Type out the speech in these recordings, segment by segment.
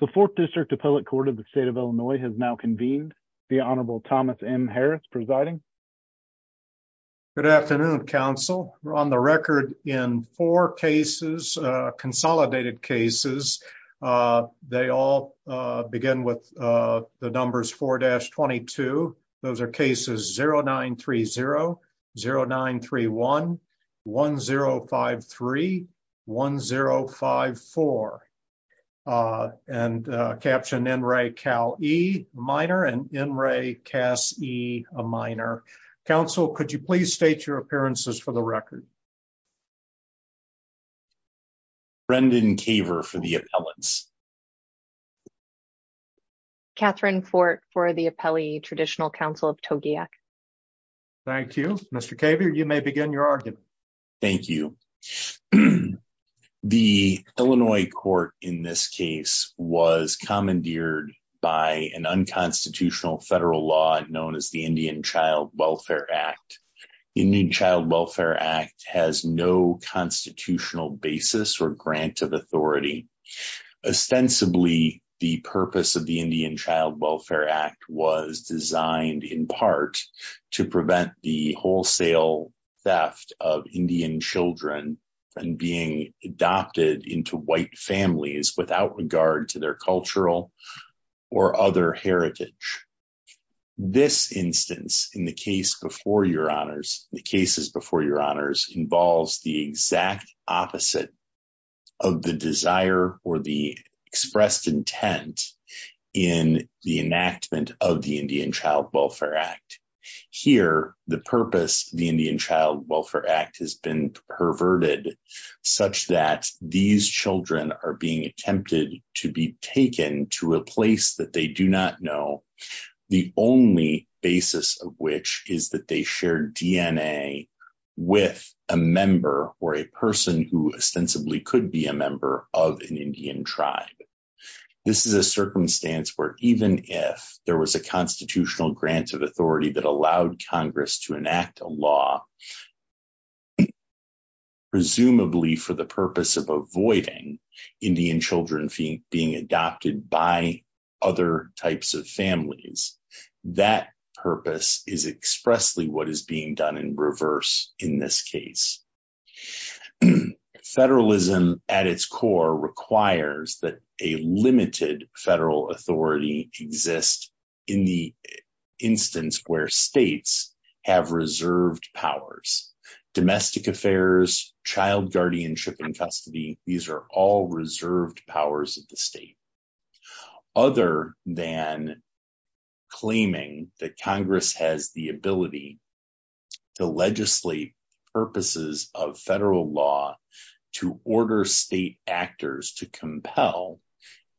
The 4th District Appellate Court of the state of Illinois has now convened the Honorable Thomas M. Harris presiding. Good afternoon council on the record in 4 cases, consolidated cases, they all begin with the numbers 4-22. Those are cases 0930, 0931, 1053, 1054. And caption NRA CAL E minor and NRA CAS E a minor. Council, could you please state your appearances for the record? Brendan Kaver for the appellants. Catherine Fort for the Appellee Traditional Council of Togiak. Thank you. Mr. Kaver, you may begin your argument. Thank you. The Illinois court in this case was commandeered by an unconstitutional federal law known as the Indian Child Welfare Act. Indian Child Welfare Act has no constitutional basis or grant of authority. Ostensibly, the purpose of the Indian Child Welfare Act was designed in part to prevent the wholesale theft of Indian children from being adopted into white families without regard to their cultural or other heritage. This instance in the case before your honors, the cases before your honors, involves the exact opposite of the desire or the expressed intent in the enactment of the Indian Child Welfare Act. Here, the purpose of the Indian Child Welfare Act has been perverted such that these children are being attempted to be taken to a place that they do not know, the only basis of which is that they share DNA with a member or a person who ostensibly could be a member of an Indian tribe. This is a circumstance where even if there was a constitutional grant of authority that allowed Congress to enact a law, presumably for the purpose of avoiding Indian children being adopted by other types of families, that purpose is expressly what is being done in reverse in this case. Federalism at its core requires that a limited federal authority exist in the instance where states have reserved powers. Domestic affairs, child guardianship and custody, these are all reserved powers of the state. Other than claiming that Congress has the ability to legislate purposes of federal law to order state actors to compel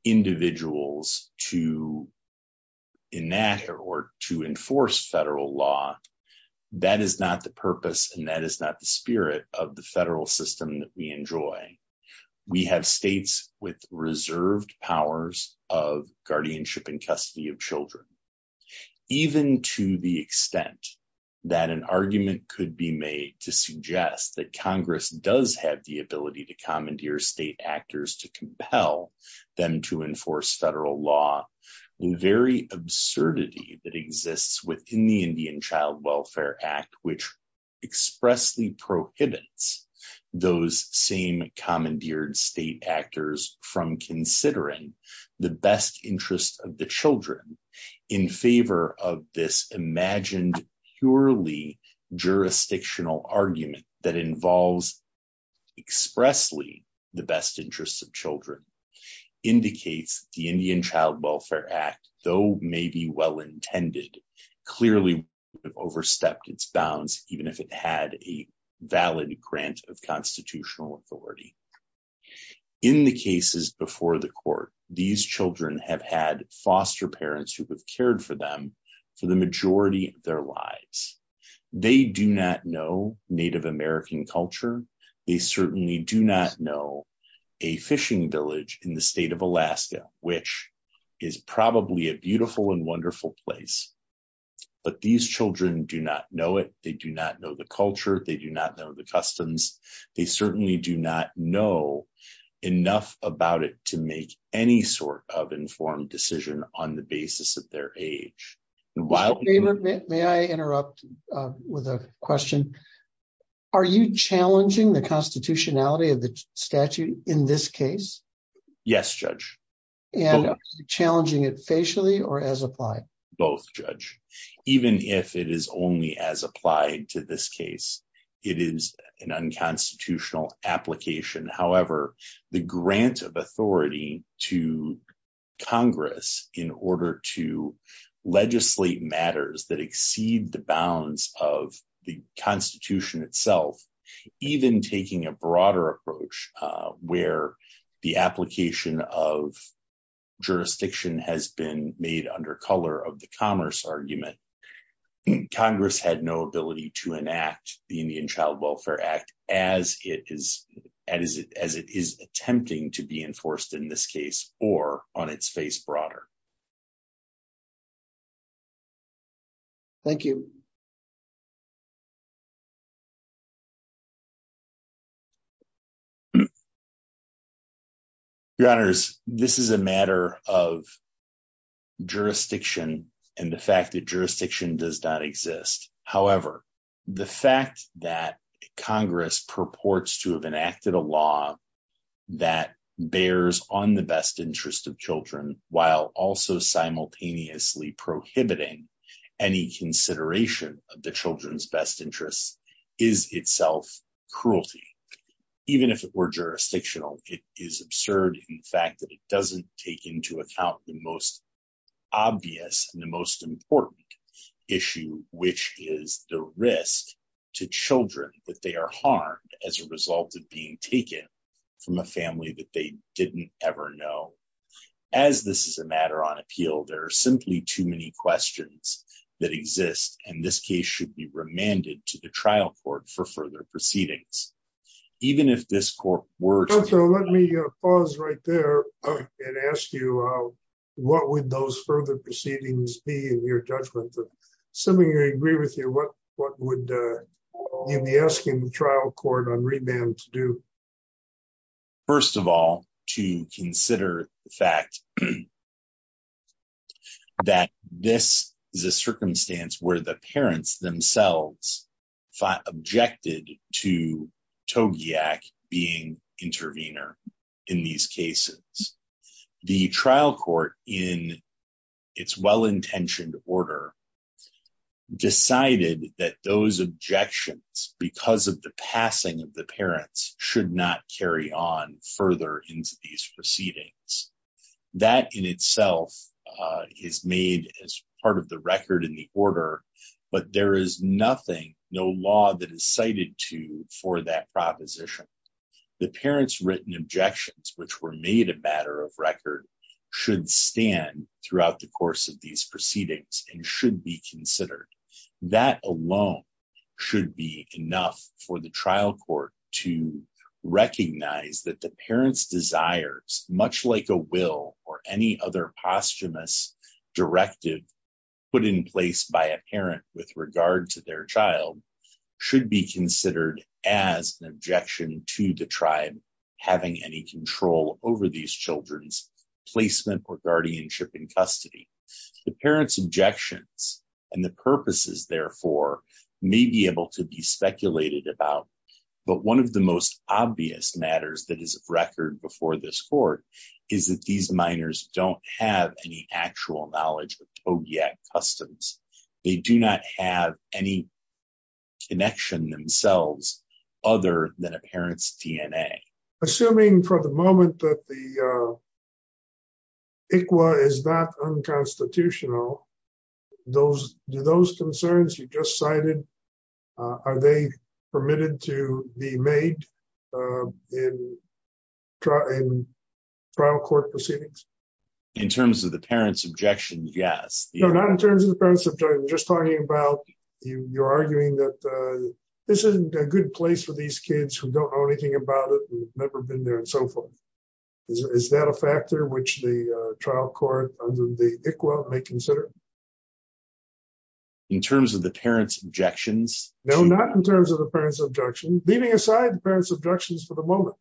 individuals to enact or to enforce federal law, that is not the purpose and that is not the spirit of the federal system that we enjoy. We have states with reserved powers of guardianship and custody of children. Even to the extent that an argument could be made to suggest that Congress does have the ability to commandeer state actors to compel them to enforce federal law, the very absurdity that exists within the Indian Child Welfare Act, which expressly prohibits those same commandeered state actors from considering the best interest of the children in favor of this imagined purely jurisdictional argument that involves expressly the best interest of children, indicates the Indian Child Welfare Act, though maybe well intended, clearly overstepped its bounds, even if it had a valid grant of constitutional authority. In the cases before the court, these children have had foster parents who have cared for them for the majority of their lives. They do not know Native American culture. They certainly do not know a fishing village in the state of Alaska, which is probably a beautiful and wonderful place. But these children do not know it. They do not know the culture. They do not know the customs. They certainly do not know enough about it to make any sort of informed decision on the basis of their age. While... May I interrupt with a question? Are you challenging the constitutionality of the statute in this case? Yes, Judge. Both, Judge. Even if it is only as applied to this case, it is an unconstitutional application. However, the grant of authority to Congress in order to legislate matters that exceed the bounds of the Constitution itself, even taking a broader approach where the application of jurisdiction has been made under color of the commerce argument, Congress had no ability to enact the Indian Child Welfare Act as it is attempting to be enforced in this case or on its face broader. Thank you. Your Honors, this is a matter of jurisdiction and the fact that jurisdiction does not exist. Even if it were jurisdictional, it is absurd in fact that it doesn't take into account the most obvious and the most important issue, which is the risk to children that they are harmed as a result of being taken from a family that they didn't ever know. As this is a matter on appeal, there are simply too many questions that exist, and this case should be remanded to the trial court for further proceedings. Even if this court were to... Let me pause right there and ask you, what would those further proceedings be in your judgment? Assuming I agree with you, what would you be asking the trial court on remand to do? First of all, to consider the fact that this is a circumstance where the parents themselves objected to Togiak being intervener in these cases. The trial court, in its well-intentioned order, decided that those objections, because of the passing of the parents, should not carry on further into these proceedings. That in itself is made as part of the record in the order, but there is nothing, no law that is cited to for that proposition. The parents' written objections, which were made a matter of record, should stand throughout the course of these proceedings and should be considered. That alone should be enough for the trial court to recognize that the parents' desires, much like a will or any other posthumous directive put in place by a parent with regard to their child, should be considered as an objection to the tribe having any control over these children's placement or guardianship in custody. The parents' objections and the purposes, therefore, may be able to be speculated about, but one of the most obvious matters that is of record before this court is that these minors don't have any actual knowledge of Togiak customs. They do not have any connection themselves other than a parent's DNA. Assuming for the moment that the ICWA is not unconstitutional, do those concerns you just cited, are they permitted to be made in trial court proceedings? In terms of the parents' objections, yes. No, not in terms of the parents' objections, just talking about your arguing that this isn't a good place for these kids who don't know anything about it and have never been there and so forth. Is that a factor which the trial court under the ICWA may consider? In terms of the parents' objections? No, not in terms of the parents' objections. Leaving aside the parents' objections for the moment.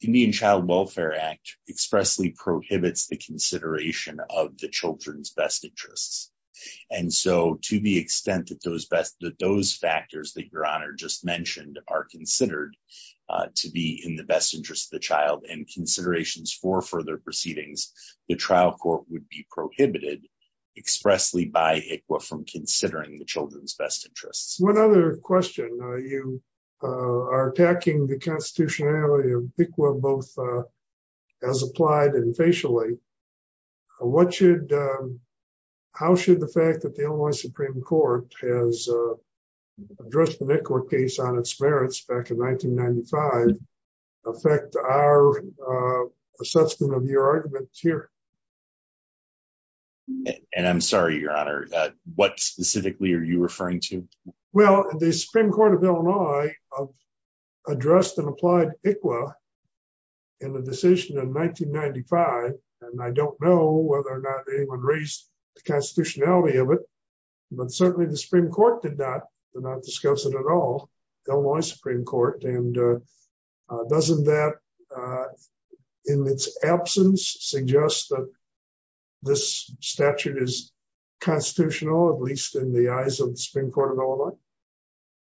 The Indian Child Welfare Act expressly prohibits the consideration of the children's best interests. And so, to the extent that those factors that Your Honor just mentioned are considered to be in the best interest of the child and considerations for further proceedings, the trial court would be prohibited expressly by ICWA from considering the children's best interests. One other question. You are attacking the constitutionality of ICWA both as applied and facially. How should the fact that the Illinois Supreme Court has addressed the ICWA case on its merits back in 1995 affect our assessment of your argument here? And I'm sorry, Your Honor, what specifically are you referring to? Well, the Supreme Court of Illinois addressed and applied ICWA in the decision in 1995, and I don't know whether or not anyone raised the constitutionality of it. But certainly the Supreme Court did not discuss it at all, Illinois Supreme Court. And doesn't that, in its absence, suggest that this statute is constitutional, at least in the eyes of the Supreme Court of Illinois?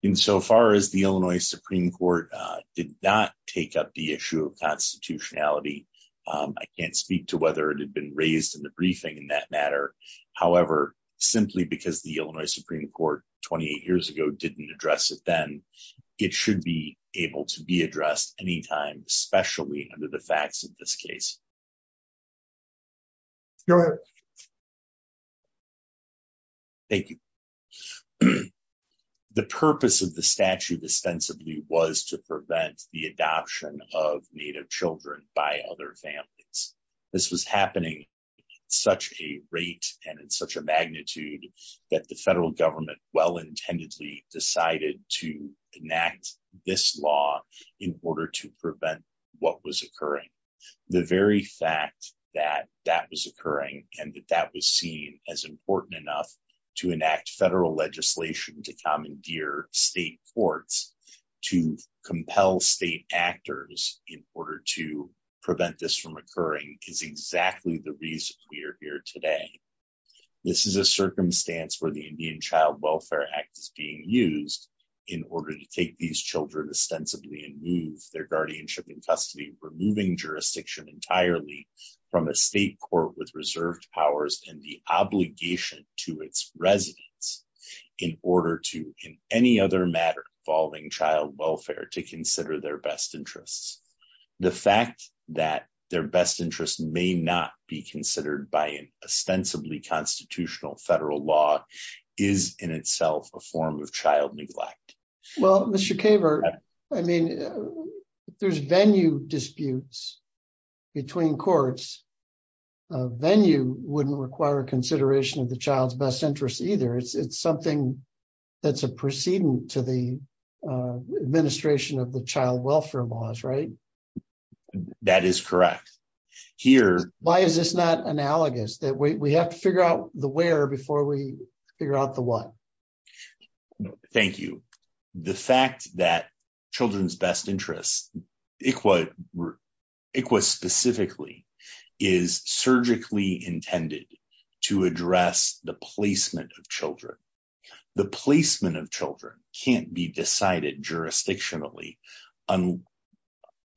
Insofar as the Illinois Supreme Court did not take up the issue of constitutionality, I can't speak to whether it had been raised in the briefing in that matter. However, simply because the Illinois Supreme Court 28 years ago didn't address it then, it should be able to be addressed anytime, especially under the facts of this case. Go ahead. Thank you. The purpose of the statute extensively was to prevent the adoption of Native children by other families. This was happening at such a rate and in such a magnitude that the federal government well-intendedly decided to enact this law in order to prevent what was occurring. The very fact that that was occurring and that that was seen as important enough to enact federal legislation to commandeer state courts, to compel state actors in order to prevent this from occurring, is exactly the reason we are here today. This is a circumstance where the Indian Child Welfare Act is being used in order to take these children ostensibly and move their guardianship and custody, removing jurisdiction entirely from a state court with reserved powers and the obligation to its residents, in order to, in any other matter involving child welfare, to consider their best interests. The fact that their best interests may not be considered by an ostensibly constitutional federal law is in itself a form of child neglect. Well, Mr. Caver, I mean, if there's venue disputes between courts, a venue wouldn't require consideration of the child's best interests either. It's something that's a precedent to the administration of the child welfare laws, right? That is correct. Why is this not analogous? We have to figure out the where before we figure out the what. Thank you. The fact that children's best interests, ICWA specifically, is surgically intended to address the placement of children. The placement of children can't be decided jurisdictionally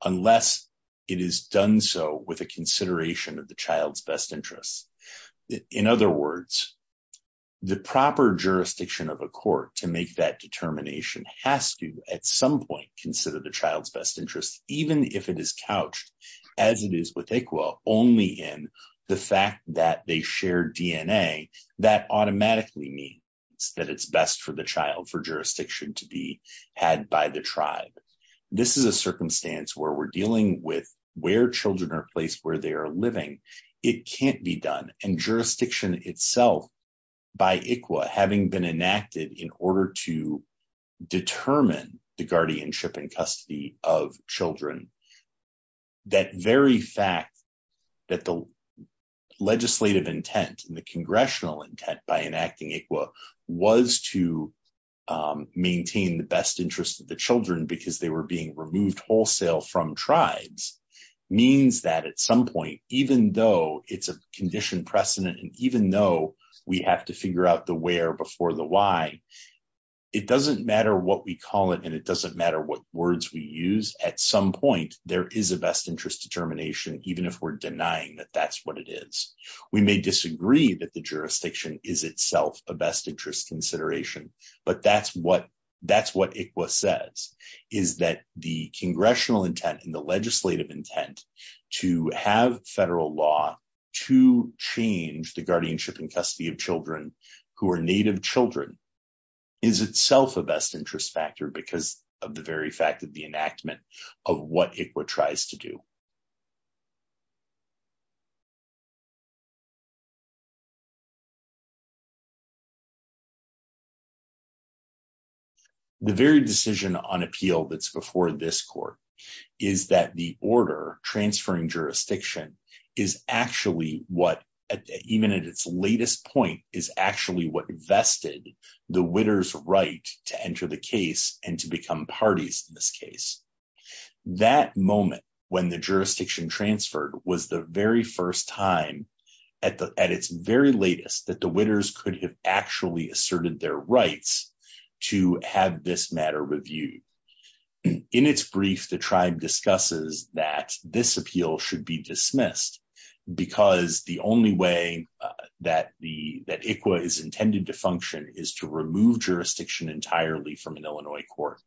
unless it is done so with a consideration of the child's best interests. In other words, the proper jurisdiction of a court to make that determination has to, at some point, consider the child's best interests, even if it is couched, as it is with ICWA, only in the fact that they share DNA. That automatically means that it's best for the child for jurisdiction to be had by the tribe. This is a circumstance where we're dealing with where children are placed, where they are living. It can't be done. And jurisdiction itself, by ICWA, having been enacted in order to determine the guardianship and custody of children, that very fact that the legislative intent and the congressional intent by enacting ICWA was to maintain the best interests of the children because they were being removed wholesale from tribes, means that at some point, even though it's a condition precedent and even though we have to figure out the where before the why, it doesn't matter what we call it and it doesn't matter what words we use. At some point, there is a best interest determination, even if we're denying that that's what it is. We may disagree that the jurisdiction is itself a best interest consideration, but that's what ICWA says, is that the congressional intent and the legislative intent to have federal law to change the guardianship and custody of children who are native children is itself a best interest factor because of the very fact of the enactment of what ICWA tries to do. The very decision on appeal that's before this court is that the order transferring jurisdiction is actually what, even at its latest point, is actually what vested the winner's right to enter the case and to become parties in this case. That moment when the jurisdiction transferred was the very first time, at its very latest, that the winners could have actually asserted their rights to have this matter reviewed. In its brief, the tribe discusses that this appeal should be dismissed because the only way that ICWA is intended to function is to remove jurisdiction entirely from an Illinois court.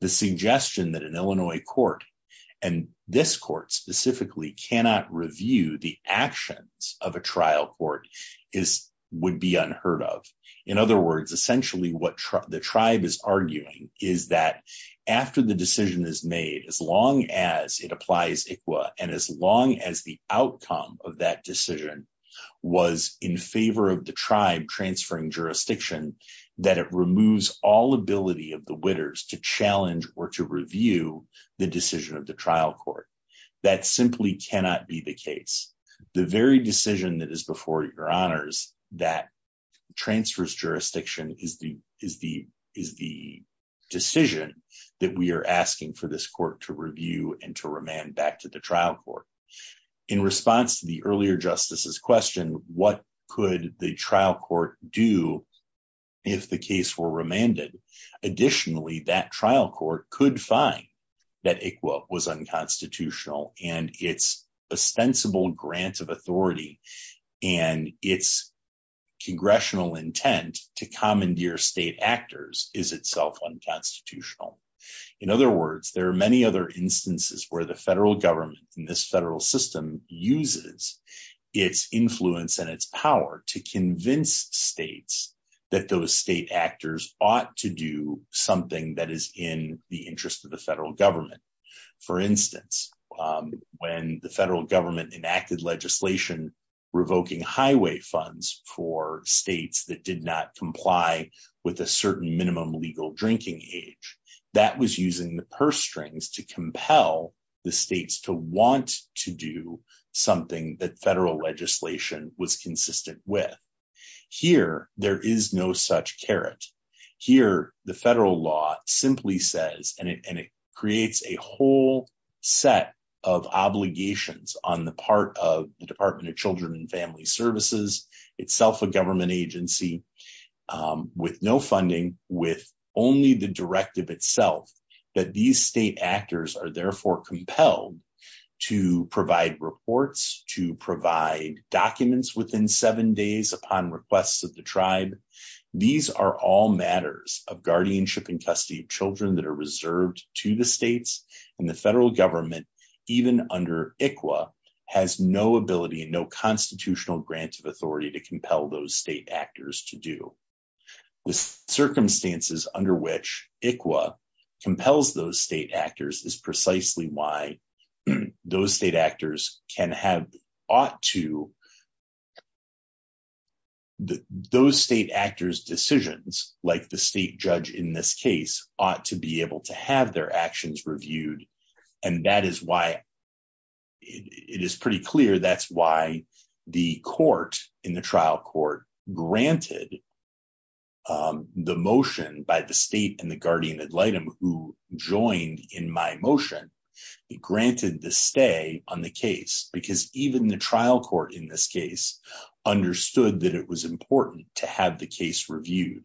The suggestion that an Illinois court, and this court specifically, cannot review the actions of a trial court would be unheard of. In other words, essentially what the tribe is arguing is that after the decision is made, as long as it applies ICWA and as long as the outcome of that decision was in favor of the tribe transferring jurisdiction, that it removes all ability of the winners to challenge or to review the decision of the trial court. That simply cannot be the case. The very decision that is before your honors that transfers jurisdiction is the decision that we are asking for this court to review and to remand back to the trial court. In response to the earlier justices question, what could the trial court do if the case were remanded? Additionally, that trial court could find that ICWA was unconstitutional and its ostensible grant of authority and its congressional intent to commandeer state actors is itself unconstitutional. In other words, there are many other instances where the federal government in this federal system uses its influence and its power to convince states that those state actors ought to do something that is in the interest of the federal government. For instance, when the federal government enacted legislation revoking highway funds for states that did not comply with a certain minimum legal drinking age, that was using the purse strings to compel the states to want to do something that federal legislation was consistent with. Here, there is no such carrot. Here, the federal law simply says, and it creates a whole set of obligations on the part of the Department of Children and Family Services, itself a government agency, with no funding, with only the directive itself, that these state actors are therefore compelled to provide reports, to provide documents within seven days upon requests of the tribe. These are all matters of guardianship and custody of children that are reserved to the states, and the federal government, even under ICWA, has no ability and no constitutional grant of authority to compel those state actors to do. The circumstances under which ICWA compels those state actors is precisely why those state actors can have, ought to, those state actors' decisions, like the state judge in this case, ought to be able to have their actions reviewed. And that is why, it is pretty clear, that's why the court in the trial court granted the motion by the state and the guardian ad litem who joined in my motion, granted the stay on the case, because even the trial court in this case understood that it was important to have the case reviewed.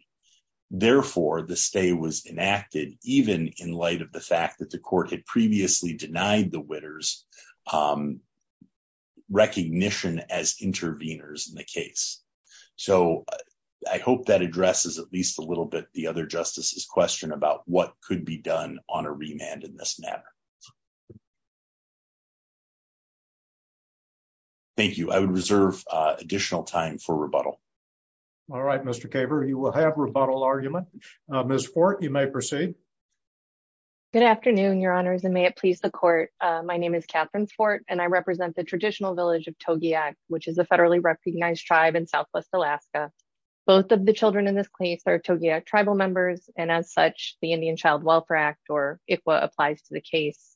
Therefore, the stay was enacted, even in light of the fact that the court had previously denied the witters recognition as intervenors in the case. So, I hope that addresses at least a little bit the other justices' question about what could be done on a remand in this matter. Thank you. I would reserve additional time for rebuttal. All right, Mr. Caver, you will have rebuttal argument. Ms. Fort, you may proceed. Good afternoon, your honors, and may it please the court. My name is Catherine Fort, and I represent the traditional village of Togiak, which is a federally recognized tribe in southwest Alaska. Both of the children in this case are Togiak tribal members, and as such, the Indian Child Welfare Act, or ICWA, applies to the case.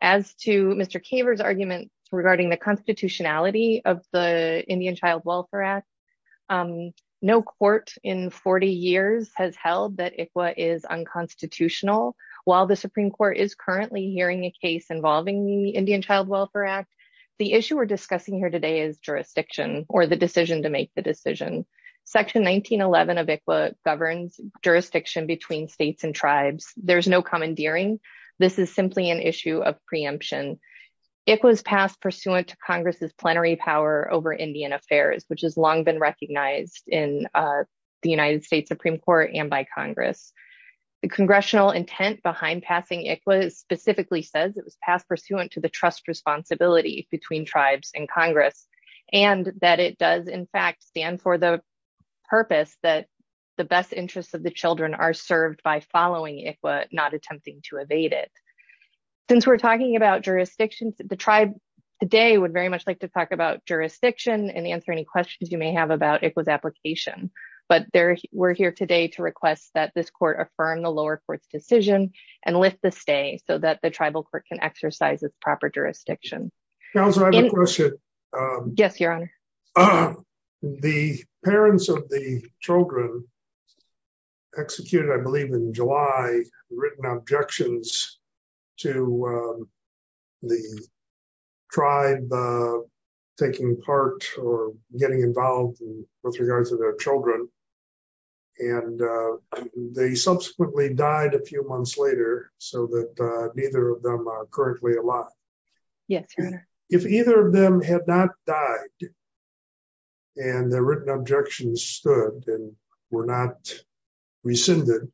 As to Mr. Caver's argument regarding the constitutionality of the Indian Child Welfare Act, no court in 40 years has held that ICWA is unconstitutional. While the Supreme Court is currently hearing a case involving the Indian Child Welfare Act, the issue we're discussing here today is jurisdiction, or the decision to make the decision. Section 1911 of ICWA governs jurisdiction between states and tribes. There's no commandeering. This is simply an issue of preemption. It was passed pursuant to Congress's plenary power over Indian affairs, which has long been recognized in the United States Supreme Court and by Congress. The congressional intent behind passing ICWA specifically says it was passed pursuant to the trust responsibility between tribes and Congress, and that it does, in fact, stand for the purpose that the best interests of the children are served by following ICWA, not attempting to evade it. Since we're talking about jurisdictions, the tribe today would very much like to talk about jurisdiction and answer any questions you may have about ICWA's application. But we're here today to request that this court affirm the lower court's decision and lift the stay so that the tribal court can exercise its proper jurisdiction. Counselor, I have a question. Yes, Your Honor. The parents of the children executed, I believe in July, written objections to the tribe taking part or getting involved with regards to their children. And they subsequently died a few months later, so that neither of them are currently alive. If either of them had not died and their written objections stood and were not rescinded,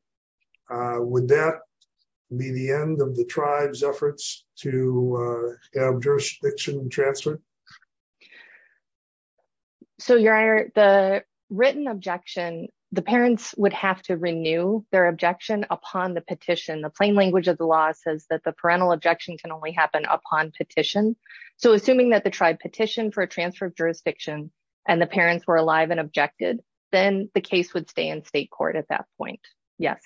would that be the end of the tribe's efforts to have jurisdiction transferred? So, Your Honor, the written objection, the parents would have to renew their objection upon the petition. The plain language of the law says that the parental objection can only happen upon petition. So, assuming that the tribe petitioned for a transfer of jurisdiction and the parents were alive and objected, then the case would stay in state court at that point. Yes.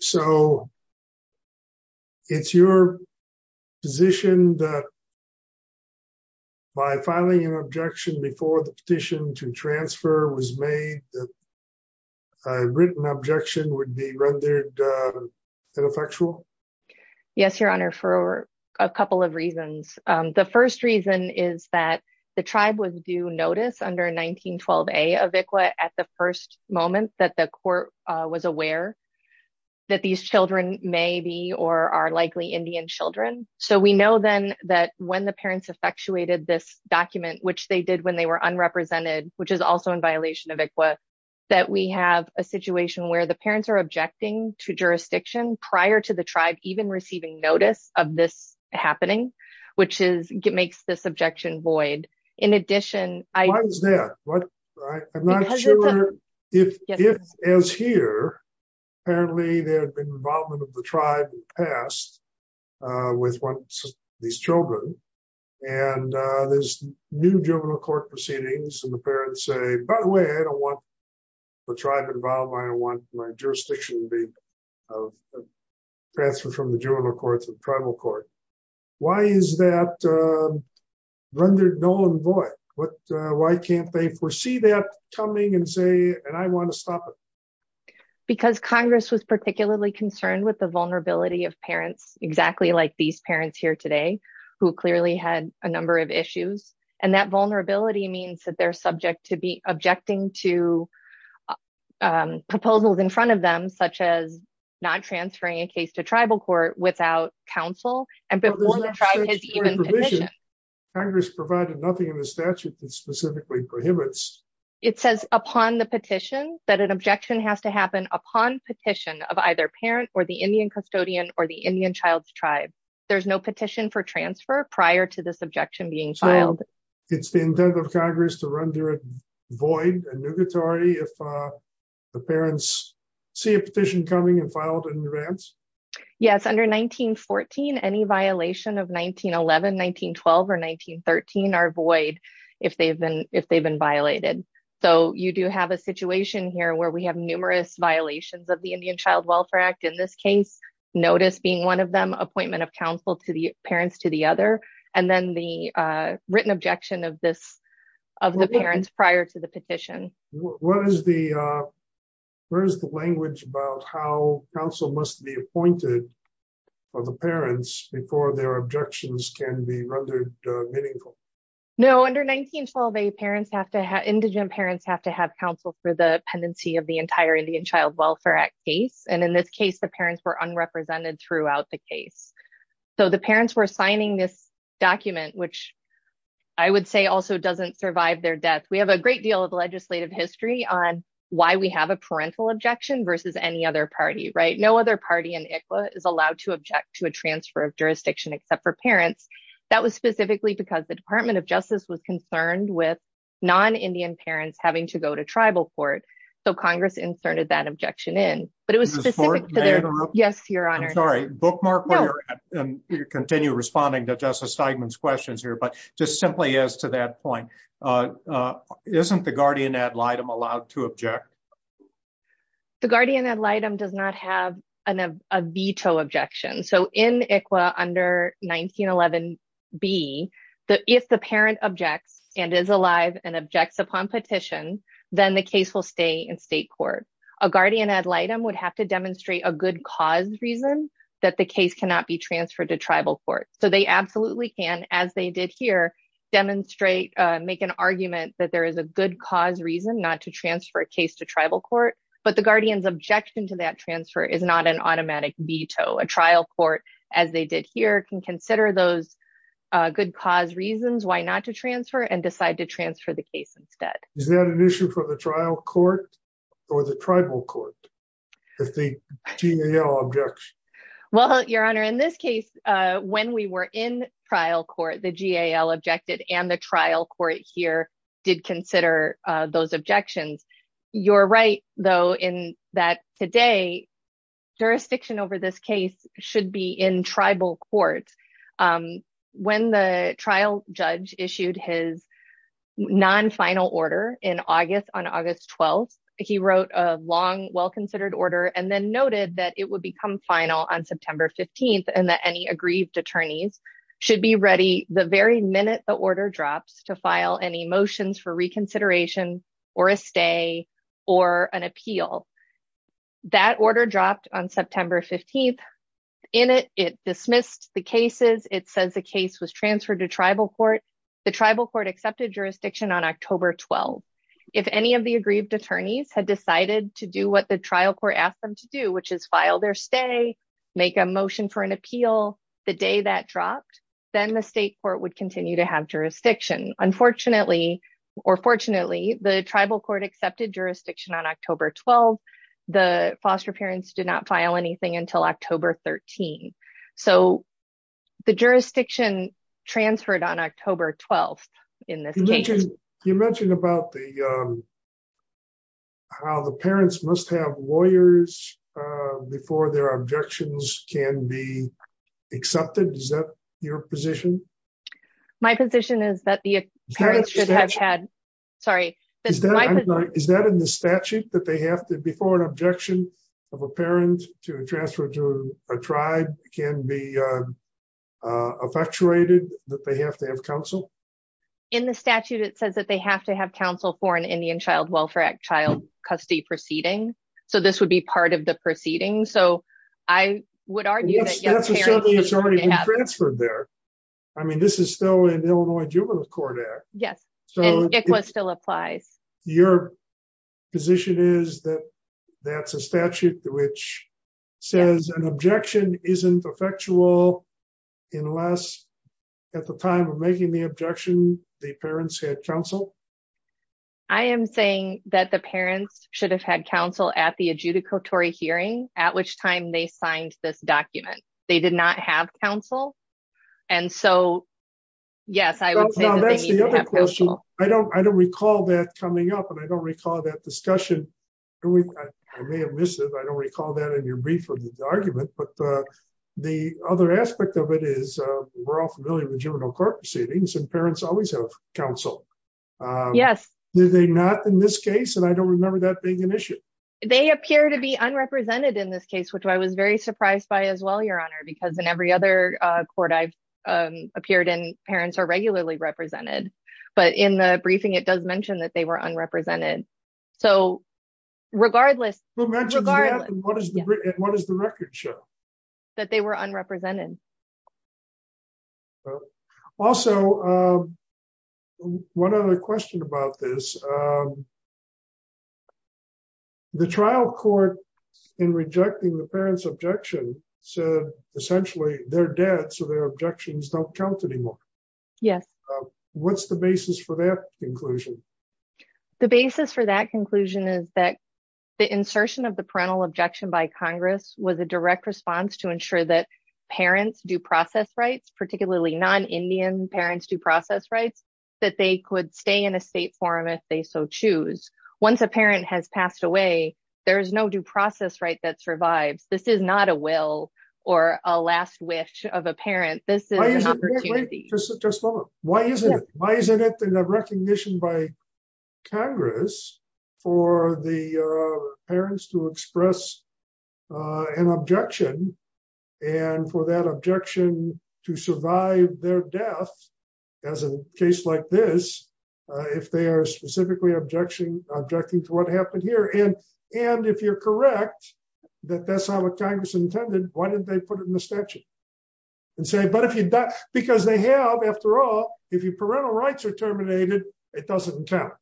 So, it's your position that by filing an objection before the petition to transfer was made, that a written objection would be rendered ineffectual? Yes, Your Honor, for a couple of reasons. The first reason is that the tribe was due notice under 1912A of ICWA at the first moment that the court was aware that these children may be or are likely Indian children. So, we know then that when the parents effectuated this document, which they did when they were unrepresented, which is also in violation of ICWA, that we have a situation where the parents are objecting to jurisdiction prior to the tribe even receiving notice of this happening, which makes this objection void. Why is that? I'm not sure if, as here, apparently there had been involvement of the tribe in the past with these children, and there's new juvenile court proceedings and the parents say, by the way, I don't want the tribe involved, I don't want my jurisdiction transferred from the juvenile court to the tribal court. Why is that rendered null and void? Why can't they foresee that coming and say, and I want to stop it? Because Congress was particularly concerned with the vulnerability of parents, exactly like these parents here today, who clearly had a number of issues. And that vulnerability means that they're subject to be objecting to proposals in front of them, such as not transferring a case to tribal court without counsel, and before the tribe has even petitioned. Congress provided nothing in the statute that specifically prohibits. It says upon the petition that an objection has to happen upon petition of either parent or the Indian custodian or the Indian child's tribe. There's no petition for transfer prior to this objection being filed. It's the intent of Congress to render it void and nugatory if the parents see a petition coming and filed in advance? Yes, under 1914, any violation of 1911, 1912, or 1913 are void if they've been violated. So you do have a situation here where we have numerous violations of the Indian Child Welfare Act. In this case, notice being one of them, appointment of counsel to the parents to the other, and then the written objection of the parents prior to the petition. What is the language about how counsel must be appointed for the parents before their objections can be rendered meaningful? No, under 1912, indigent parents have to have counsel for the pendency of the entire Indian Child Welfare Act case. In this case, the parents were unrepresented throughout the case. The parents were signing this document, which I would say also doesn't survive their death. We have a great deal of legislative history on why we have a parental objection versus any other party. No other party in ICWA is allowed to object to a transfer of jurisdiction except for parents. That was specifically because the Department of Justice was concerned with non-Indian parents having to go to tribal court. So Congress inserted that objection in. May I interrupt? Yes, Your Honor. I'm sorry, bookmark where you're at and continue responding to Justice Steigman's questions here. But just simply as to that point, isn't the guardian ad litem allowed to object? The guardian ad litem does not have a veto objection. So in ICWA under 1911B, if the parent objects and is alive and objects upon petition, then the case will stay in state court. A guardian ad litem would have to demonstrate a good cause reason that the case cannot be transferred to tribal court. So they absolutely can, as they did here, demonstrate, make an argument that there is a good cause reason not to transfer a case to tribal court. But the guardian's objection to that transfer is not an automatic veto. A trial court, as they did here, can consider those good cause reasons why not to transfer and decide to transfer the case instead. Is that an issue for the trial court or the tribal court if the GAL objects? Well, Your Honor, in this case, when we were in trial court, the GAL objected and the trial court here did consider those objections. You're right, though, in that today, jurisdiction over this case should be in tribal court. When the trial judge issued his non-final order on August 12th, he wrote a long, well-considered order and then noted that it would become final on September 15th and that any aggrieved attorneys should be ready the very minute the order drops to file any motions for reconsideration or a stay or an appeal. That order dropped on September 15th. In it, it dismissed the cases. It says the case was transferred to tribal court. The tribal court accepted jurisdiction on October 12th. If any of the aggrieved attorneys had decided to do what the trial court asked them to do, which is file their stay, make a motion for an appeal the day that dropped, then the state court would continue to have jurisdiction. Unfortunately, or fortunately, the tribal court accepted jurisdiction on October 12th. The foster parents did not file anything until October 13th. So the jurisdiction transferred on October 12th in this case. You mentioned about the, how the parents must have lawyers before their objections can be accepted. Is that your position? My position is that the parents should have had, sorry. Is that in the statute that they have to, before an objection of a parent to transfer to a tribe can be effectuated, that they have to have counsel? In the statute, it says that they have to have counsel for an Indian Child Welfare Act child custody proceeding. So this would be part of the proceeding. So I would argue that- That's assuming it's already been transferred there. I mean, this is still an Illinois Juvenile Court Act. Yes, and ICWA still applies. Your position is that that's a statute which says an objection isn't effectual unless at the time of making the objection, the parents had counsel? I am saying that the parents should have had counsel at the adjudicatory hearing, at which time they signed this document. They did not have counsel. And so, yes, I would say that they need to have counsel. I don't recall that coming up, and I don't recall that discussion. I may have missed it. I don't recall that in your brief or the argument. But the other aspect of it is we're all familiar with juvenile court proceedings, and parents always have counsel. Yes. Do they not in this case? And I don't remember that being an issue. They appear to be unrepresented in this case, which I was very surprised by as well, Your Honor, because in every other court I've appeared in, parents are regularly represented. But in the briefing, it does mention that they were unrepresented. So, regardless- Who mentions that, and what does the record show? That they were unrepresented. Also, one other question about this. The trial court, in rejecting the parents' objection, said, essentially, they're dead, so their objections don't count anymore. Yes. What's the basis for that conclusion? The basis for that conclusion is that the insertion of the parental objection by Congress was a direct response to ensure that parents' due process rights, particularly non-Indian parents' due process rights, that they could stay in a state forum if they so choose. Once a parent has passed away, there is no due process right that survives. This is not a will or a last wish of a parent. This is an opportunity. Just a moment. Why isn't it? Why isn't it a recognition by Congress for the parents to express an objection, and for that objection to survive their death, as in a case like this, if they are specifically objecting to what happened here? And if you're correct, that that's how Congress intended, why didn't they put it in the statute? Because they have, after all, if your parental rights are terminated, it doesn't count.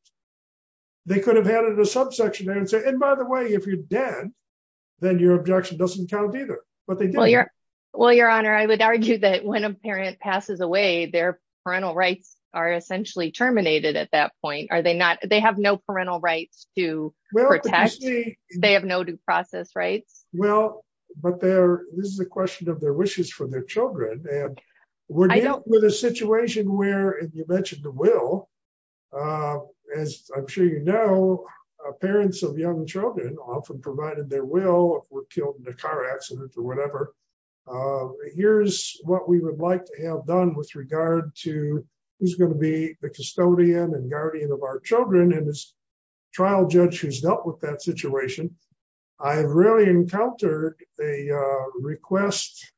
They could have added a subsection there and said, and by the way, if you're dead, then your objection doesn't count either. Well, Your Honor, I would argue that when a parent passes away, their parental rights are essentially terminated at that point. Are they not? They have no parental rights to protect. They have no due process rights. Well, but this is a question of their wishes for their children. We're dealing with a situation where you mentioned the will. As I'm sure you know, parents of young children often provided their will if we're killed in a car accident or whatever. Here's what we would like to have done with regard to who's going to be the custodian and guardian of our children and this trial judge who's dealt with that situation. I've really encountered a request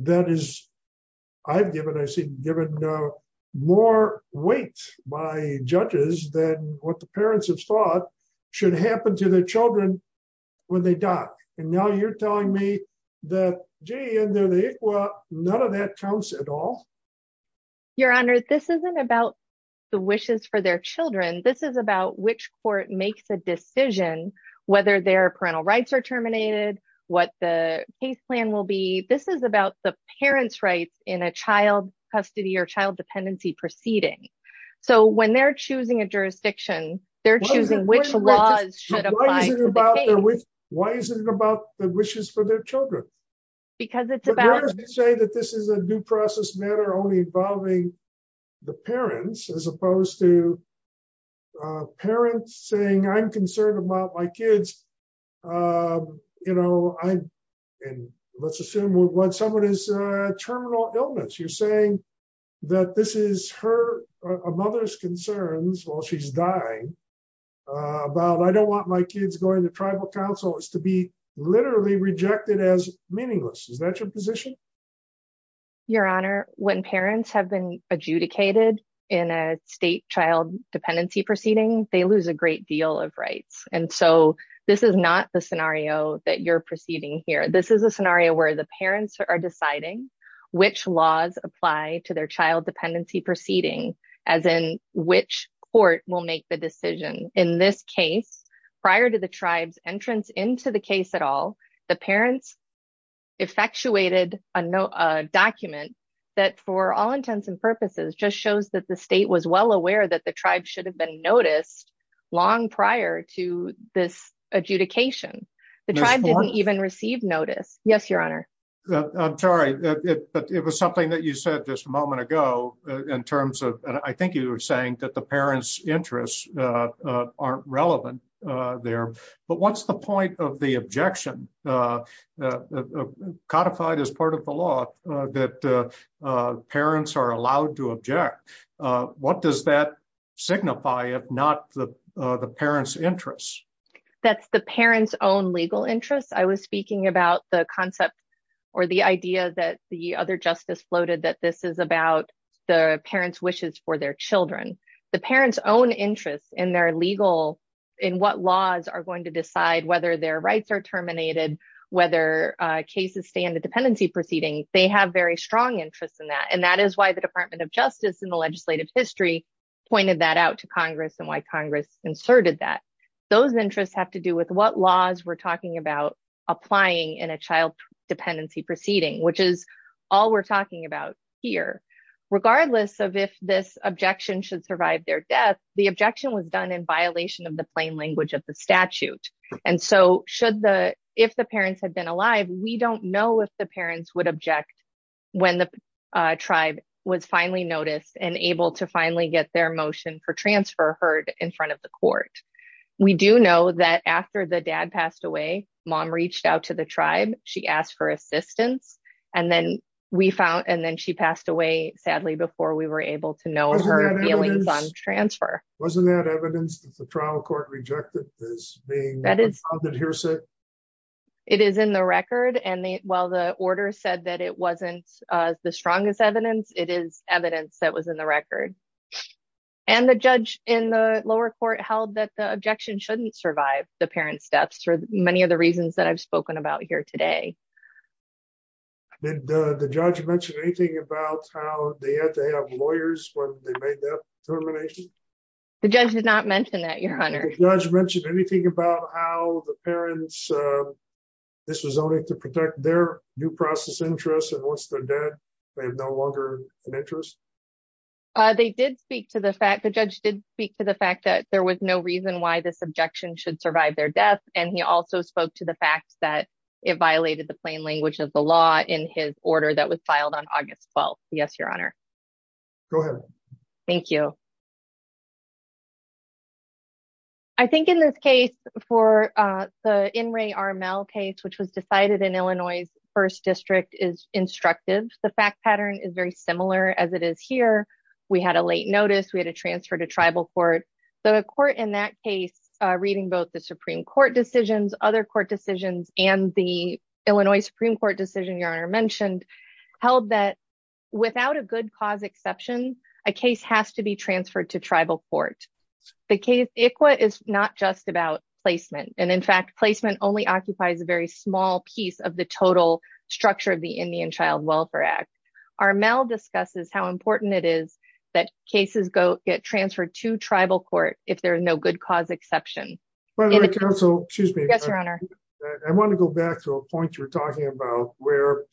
that is, I've given, I've seen given more weight by judges than what the parents have thought should happen to their children when they die. And now you're telling me that, gee, under the ICWA, none of that counts at all. Your Honor, this isn't about the wishes for their children. This is about which court makes a decision, whether their parental rights are terminated, what the case plan will be. This is about the parents' rights in a child custody or child dependency proceeding. So when they're choosing a jurisdiction, they're choosing which laws should apply to the case. Why is it about the wishes for their children? Because it's about... But why does it say that this is a due process matter only involving the parents, as opposed to parents saying, I'm concerned about my kids. You know, I, and let's assume someone has terminal illness. You're saying that this is her, a mother's concerns while she's dying, about I don't want my kids going to tribal council is to be literally rejected as meaningless. Is that your position? Your Honor, when parents have been adjudicated in a state child dependency proceeding, they lose a great deal of rights. And so this is not the scenario that you're proceeding here. This is a scenario where the parents are deciding which laws apply to their child dependency proceeding, as in which court will make the decision. In this case, prior to the tribe's entrance into the case at all, the parents effectuated a document that for all intents and purposes, just shows that the state was well aware that the tribe should have been noticed long prior to this adjudication. The tribe didn't even receive notice. Yes, Your Honor. I'm sorry, but it was something that you said just a moment ago, in terms of, I think you were saying that the parents' interests aren't relevant there. But what's the point of the objection codified as part of the law that parents are allowed to object? What does that signify, if not the parents' interests? That's the parents' own legal interests. I was speaking about the concept or the idea that the other justice floated that this is about the parents' wishes for their children. The parents' own interests in their legal, in what laws are going to decide whether their rights are terminated, whether cases stay in the dependency proceeding, they have very strong interests in that. And that is why the Department of Justice in the legislative history pointed that out to Congress and why Congress inserted that. Those interests have to do with what laws we're talking about applying in a child dependency proceeding, which is all we're talking about here. Regardless of if this objection should survive their death, the objection was done in violation of the plain language of the statute. And so, if the parents had been alive, we don't know if the parents would object when the tribe was finally noticed and able to finally get their motion for transfer heard in front of the court. We do know that after the dad passed away, mom reached out to the tribe, she asked for assistance, and then she passed away, sadly, before we were able to know her feelings on transfer. Wasn't that evidence that the trial court rejected as being unfounded hearsay? It is in the record, and while the order said that it wasn't the strongest evidence, it is evidence that was in the record. And the judge in the lower court held that the objection shouldn't survive the parents' deaths for many of the reasons that I've spoken about here today. Did the judge mention anything about how they had to have lawyers when they made that determination? The judge did not mention that, Your Honor. Did the judge mention anything about how the parents, this was only to protect their due process interests, and once they're dead, they have no longer an interest? They did speak to the fact, the judge did speak to the fact that there was no reason why this objection should survive their death, and he also spoke to the fact that it violated the plain language of the law in his order that was filed on August 12th. Yes, Your Honor. Go ahead. Thank you. I think in this case, for the In Re Armel case, which was decided in Illinois' first district, is instructive. The fact pattern is very similar as it is here. We had a late notice, we had a transfer to tribal court. The court in that case, reading both the Supreme Court decisions, other court decisions, and the Illinois Supreme Court decision Your Honor mentioned, held that without a good cause exception, a case has to be transferred to tribal court. The case ICWA is not just about placement, and in fact, placement only occupies a very small piece of the total structure of the Indian Child Welfare Act. Armel discusses how important it is that cases get transferred to tribal court if there is no good cause exception. Yes, Your Honor. I want to go back to a point you were talking about where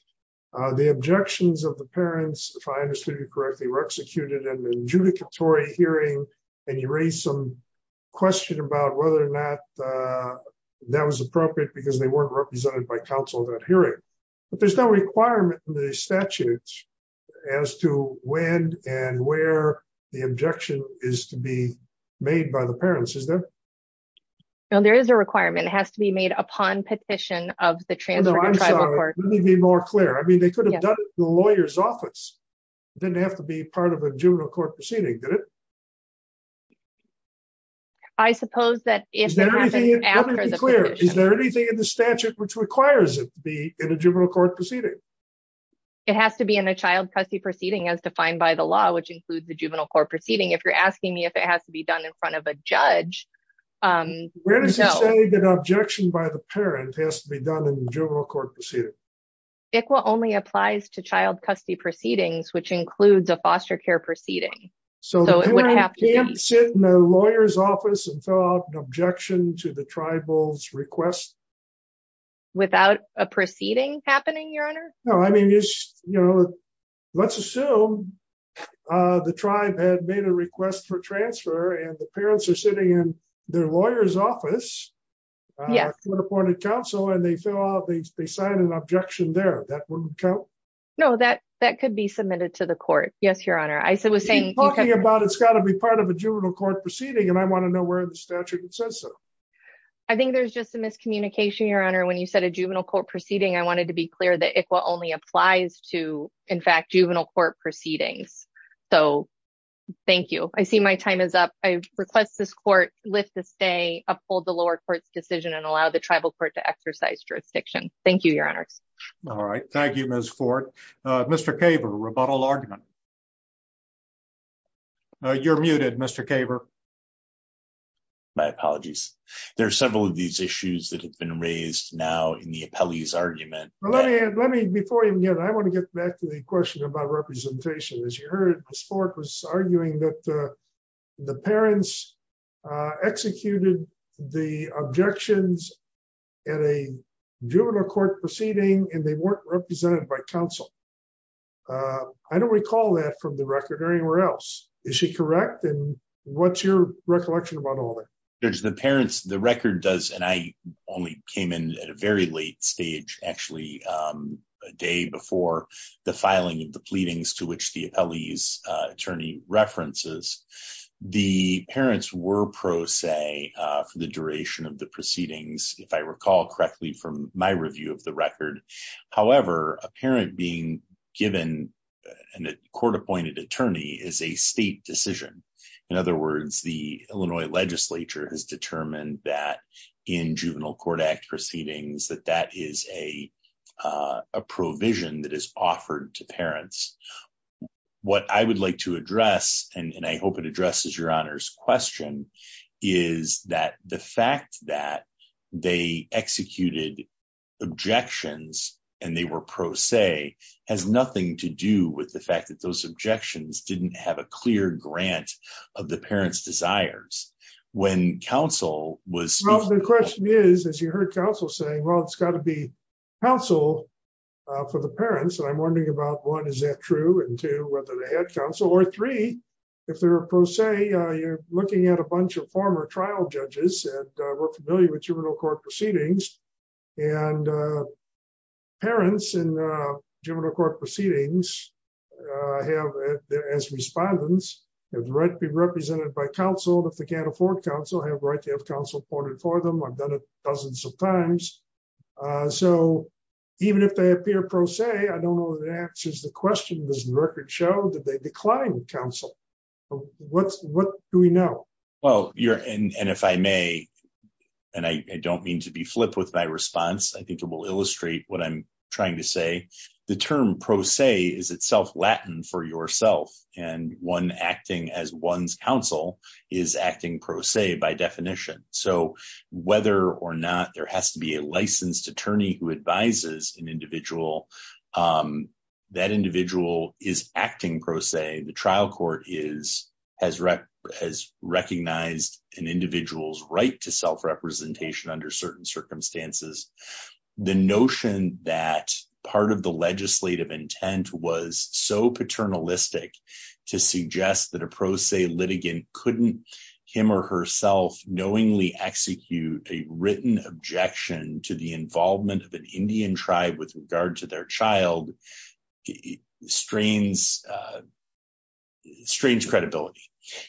the objections of the parents, if I understood you correctly, were executed in an adjudicatory hearing, and you raised some question about whether or not that was appropriate because they weren't represented by counsel in that hearing. But there's no requirement in the statutes as to when and where the objection is to be made by the parents, is there? No, there is a requirement. It has to be made upon petition of the transfer to tribal court. Let me be more clear. I mean, they could have done it in the lawyer's office. It didn't have to be part of a juvenile court proceeding, did it? Let me be clear. Is there anything in the statute which requires it to be in a juvenile court proceeding? It has to be in a child custody proceeding as defined by the law, which includes the juvenile court proceeding. If you're asking me if it has to be done in front of a judge, no. Where does it say that an objection by the parent has to be done in a juvenile court proceeding? ICWA only applies to child custody proceedings, which includes a foster care proceeding. So the parent can't sit in a lawyer's office and fill out an objection to the tribal's request? Without a proceeding happening, Your Honor? No, I mean, let's assume the tribe had made a request for transfer and the parents are sitting in their lawyer's office, a court-appointed council, and they fill out, they sign an objection there. That wouldn't count? No, that could be submitted to the court. Yes, Your Honor. You keep talking about it's got to be part of a juvenile court proceeding, and I want to know where in the statute it says so. I think there's just a miscommunication, Your Honor. When you said a juvenile court proceeding, I wanted to be clear that ICWA only applies to, in fact, juvenile court proceedings. So thank you. I see my time is up. I request this court lift the stay, uphold the lower court's decision, and allow the tribal court to exercise jurisdiction. Thank you, Your Honors. All right. Thank you, Ms. Ford. Mr. Caver, rebuttal argument. You're muted, Mr. Caver. My apologies. There are several of these issues that have been raised now in the appellee's argument. Before you begin, I want to get back to the question about representation. As you heard, Ms. Ford was arguing that the parents executed the objections at a juvenile court proceeding, and they weren't represented by counsel. I don't recall that from the record or anywhere else. Is she correct? And what's your recollection about all that? Judge, the parents, the record does, and I only came in at a very late stage, actually, a day before the filing of the pleadings to which the appellee's attorney references. The parents were pro se for the duration of the proceedings, if I recall correctly from my review of the record. However, a parent being given a court-appointed attorney is a state decision. In other words, the Illinois legislature has determined that in juvenile court act proceedings, that that is a provision that is offered to parents. What I would like to address, and I hope it addresses your honor's question, is that the fact that they executed objections, and they were pro se, has nothing to do with the fact that those objections didn't have a clear grant of the parents' desires. Well, the question is, as you heard counsel saying, well, it's got to be counsel for the parents, and I'm wondering about, one, is that true, and two, whether they had counsel, or three, if they're pro se, you're looking at a bunch of former trial judges, and we're familiar with juvenile court proceedings. And parents in juvenile court proceedings, as respondents, have the right to be represented by counsel, and if they can't afford counsel, have the right to have counsel appointed for them. I've done it dozens of times. So even if they appear pro se, I don't know that answers the question. Does the record show that they declined counsel? What do we know? Well, and if I may, and I don't mean to be flip with my response, I think it will illustrate what I'm trying to say. The term pro se is itself Latin for yourself, and one acting as one's counsel is acting pro se by definition. So whether or not there has to be a licensed attorney who advises an individual, that individual is acting pro se, the trial court has recognized an individual's right to self-representation under certain circumstances. The notion that part of the legislative intent was so paternalistic to suggest that a pro se litigant couldn't, him or herself, knowingly execute a written objection to the involvement of an Indian tribe with regard to their child, strains credibility.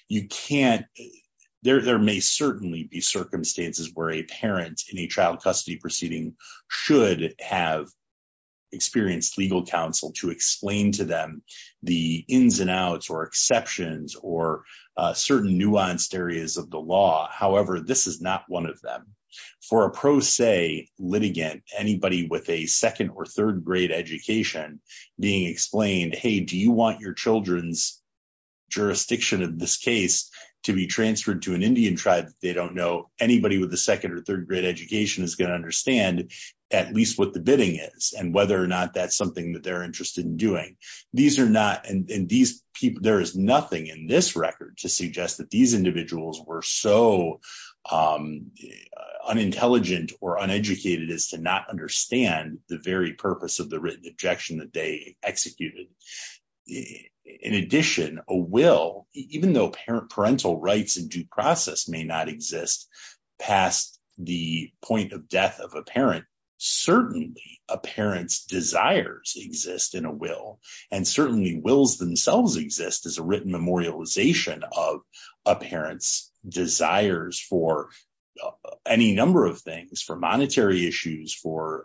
You can't, there may certainly be circumstances where a parent in a child custody proceeding should have experienced legal counsel to explain to them the ins and outs or exceptions or certain nuanced areas of the law. It's not the intention of this case to be transferred to an Indian tribe that they don't know anybody with a second or third grade education is going to understand at least what the bidding is and whether or not that's something that they're interested in doing. These are not, and these people, there is nothing in this record to suggest that these individuals were so unintelligent or uneducated as to not understand the very purpose of the written objection that they executed. In addition, a will, even though parental rights in due process may not exist past the point of death of a parent, certainly a parent's desires exist in a will, and certainly wills themselves exist as a written memorialization of a parent's desires for any number of things, for monetary issues, for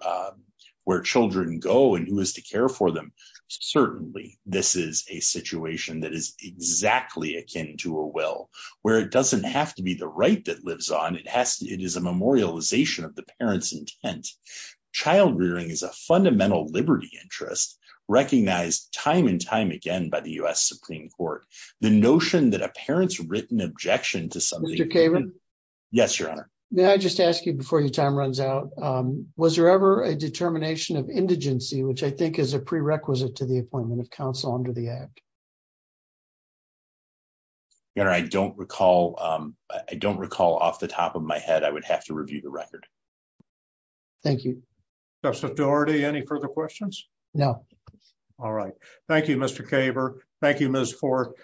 where children go and who is to care for them. Certainly, this is a situation that is exactly akin to a will, where it doesn't have to be the right that lives on, it has to, it is a memorialization of the parent's intent. Child rearing is a fundamental liberty interest, recognized time and time again by the US Supreme Court. The notion that a parent's written objection to something... May I just ask you before your time runs out, was there ever a determination of indigency, which I think is a prerequisite to the appointment of counsel under the Act? I don't recall. I don't recall off the top of my head, I would have to review the record. Thank you. Justice Doherty, any further questions? No. All right. Thank you, Mr. Caver. Thank you, Ms. Fork.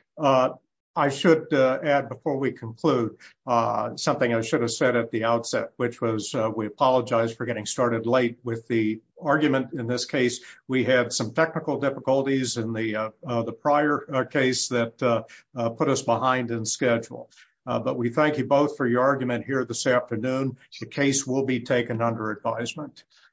I should add, before we conclude, something I should have said at the outset, which was we apologize for getting started late with the argument in this case. We had some technical difficulties in the prior case that put us behind in schedule. But we thank you both for your argument here this afternoon. The case will be taken under advisement.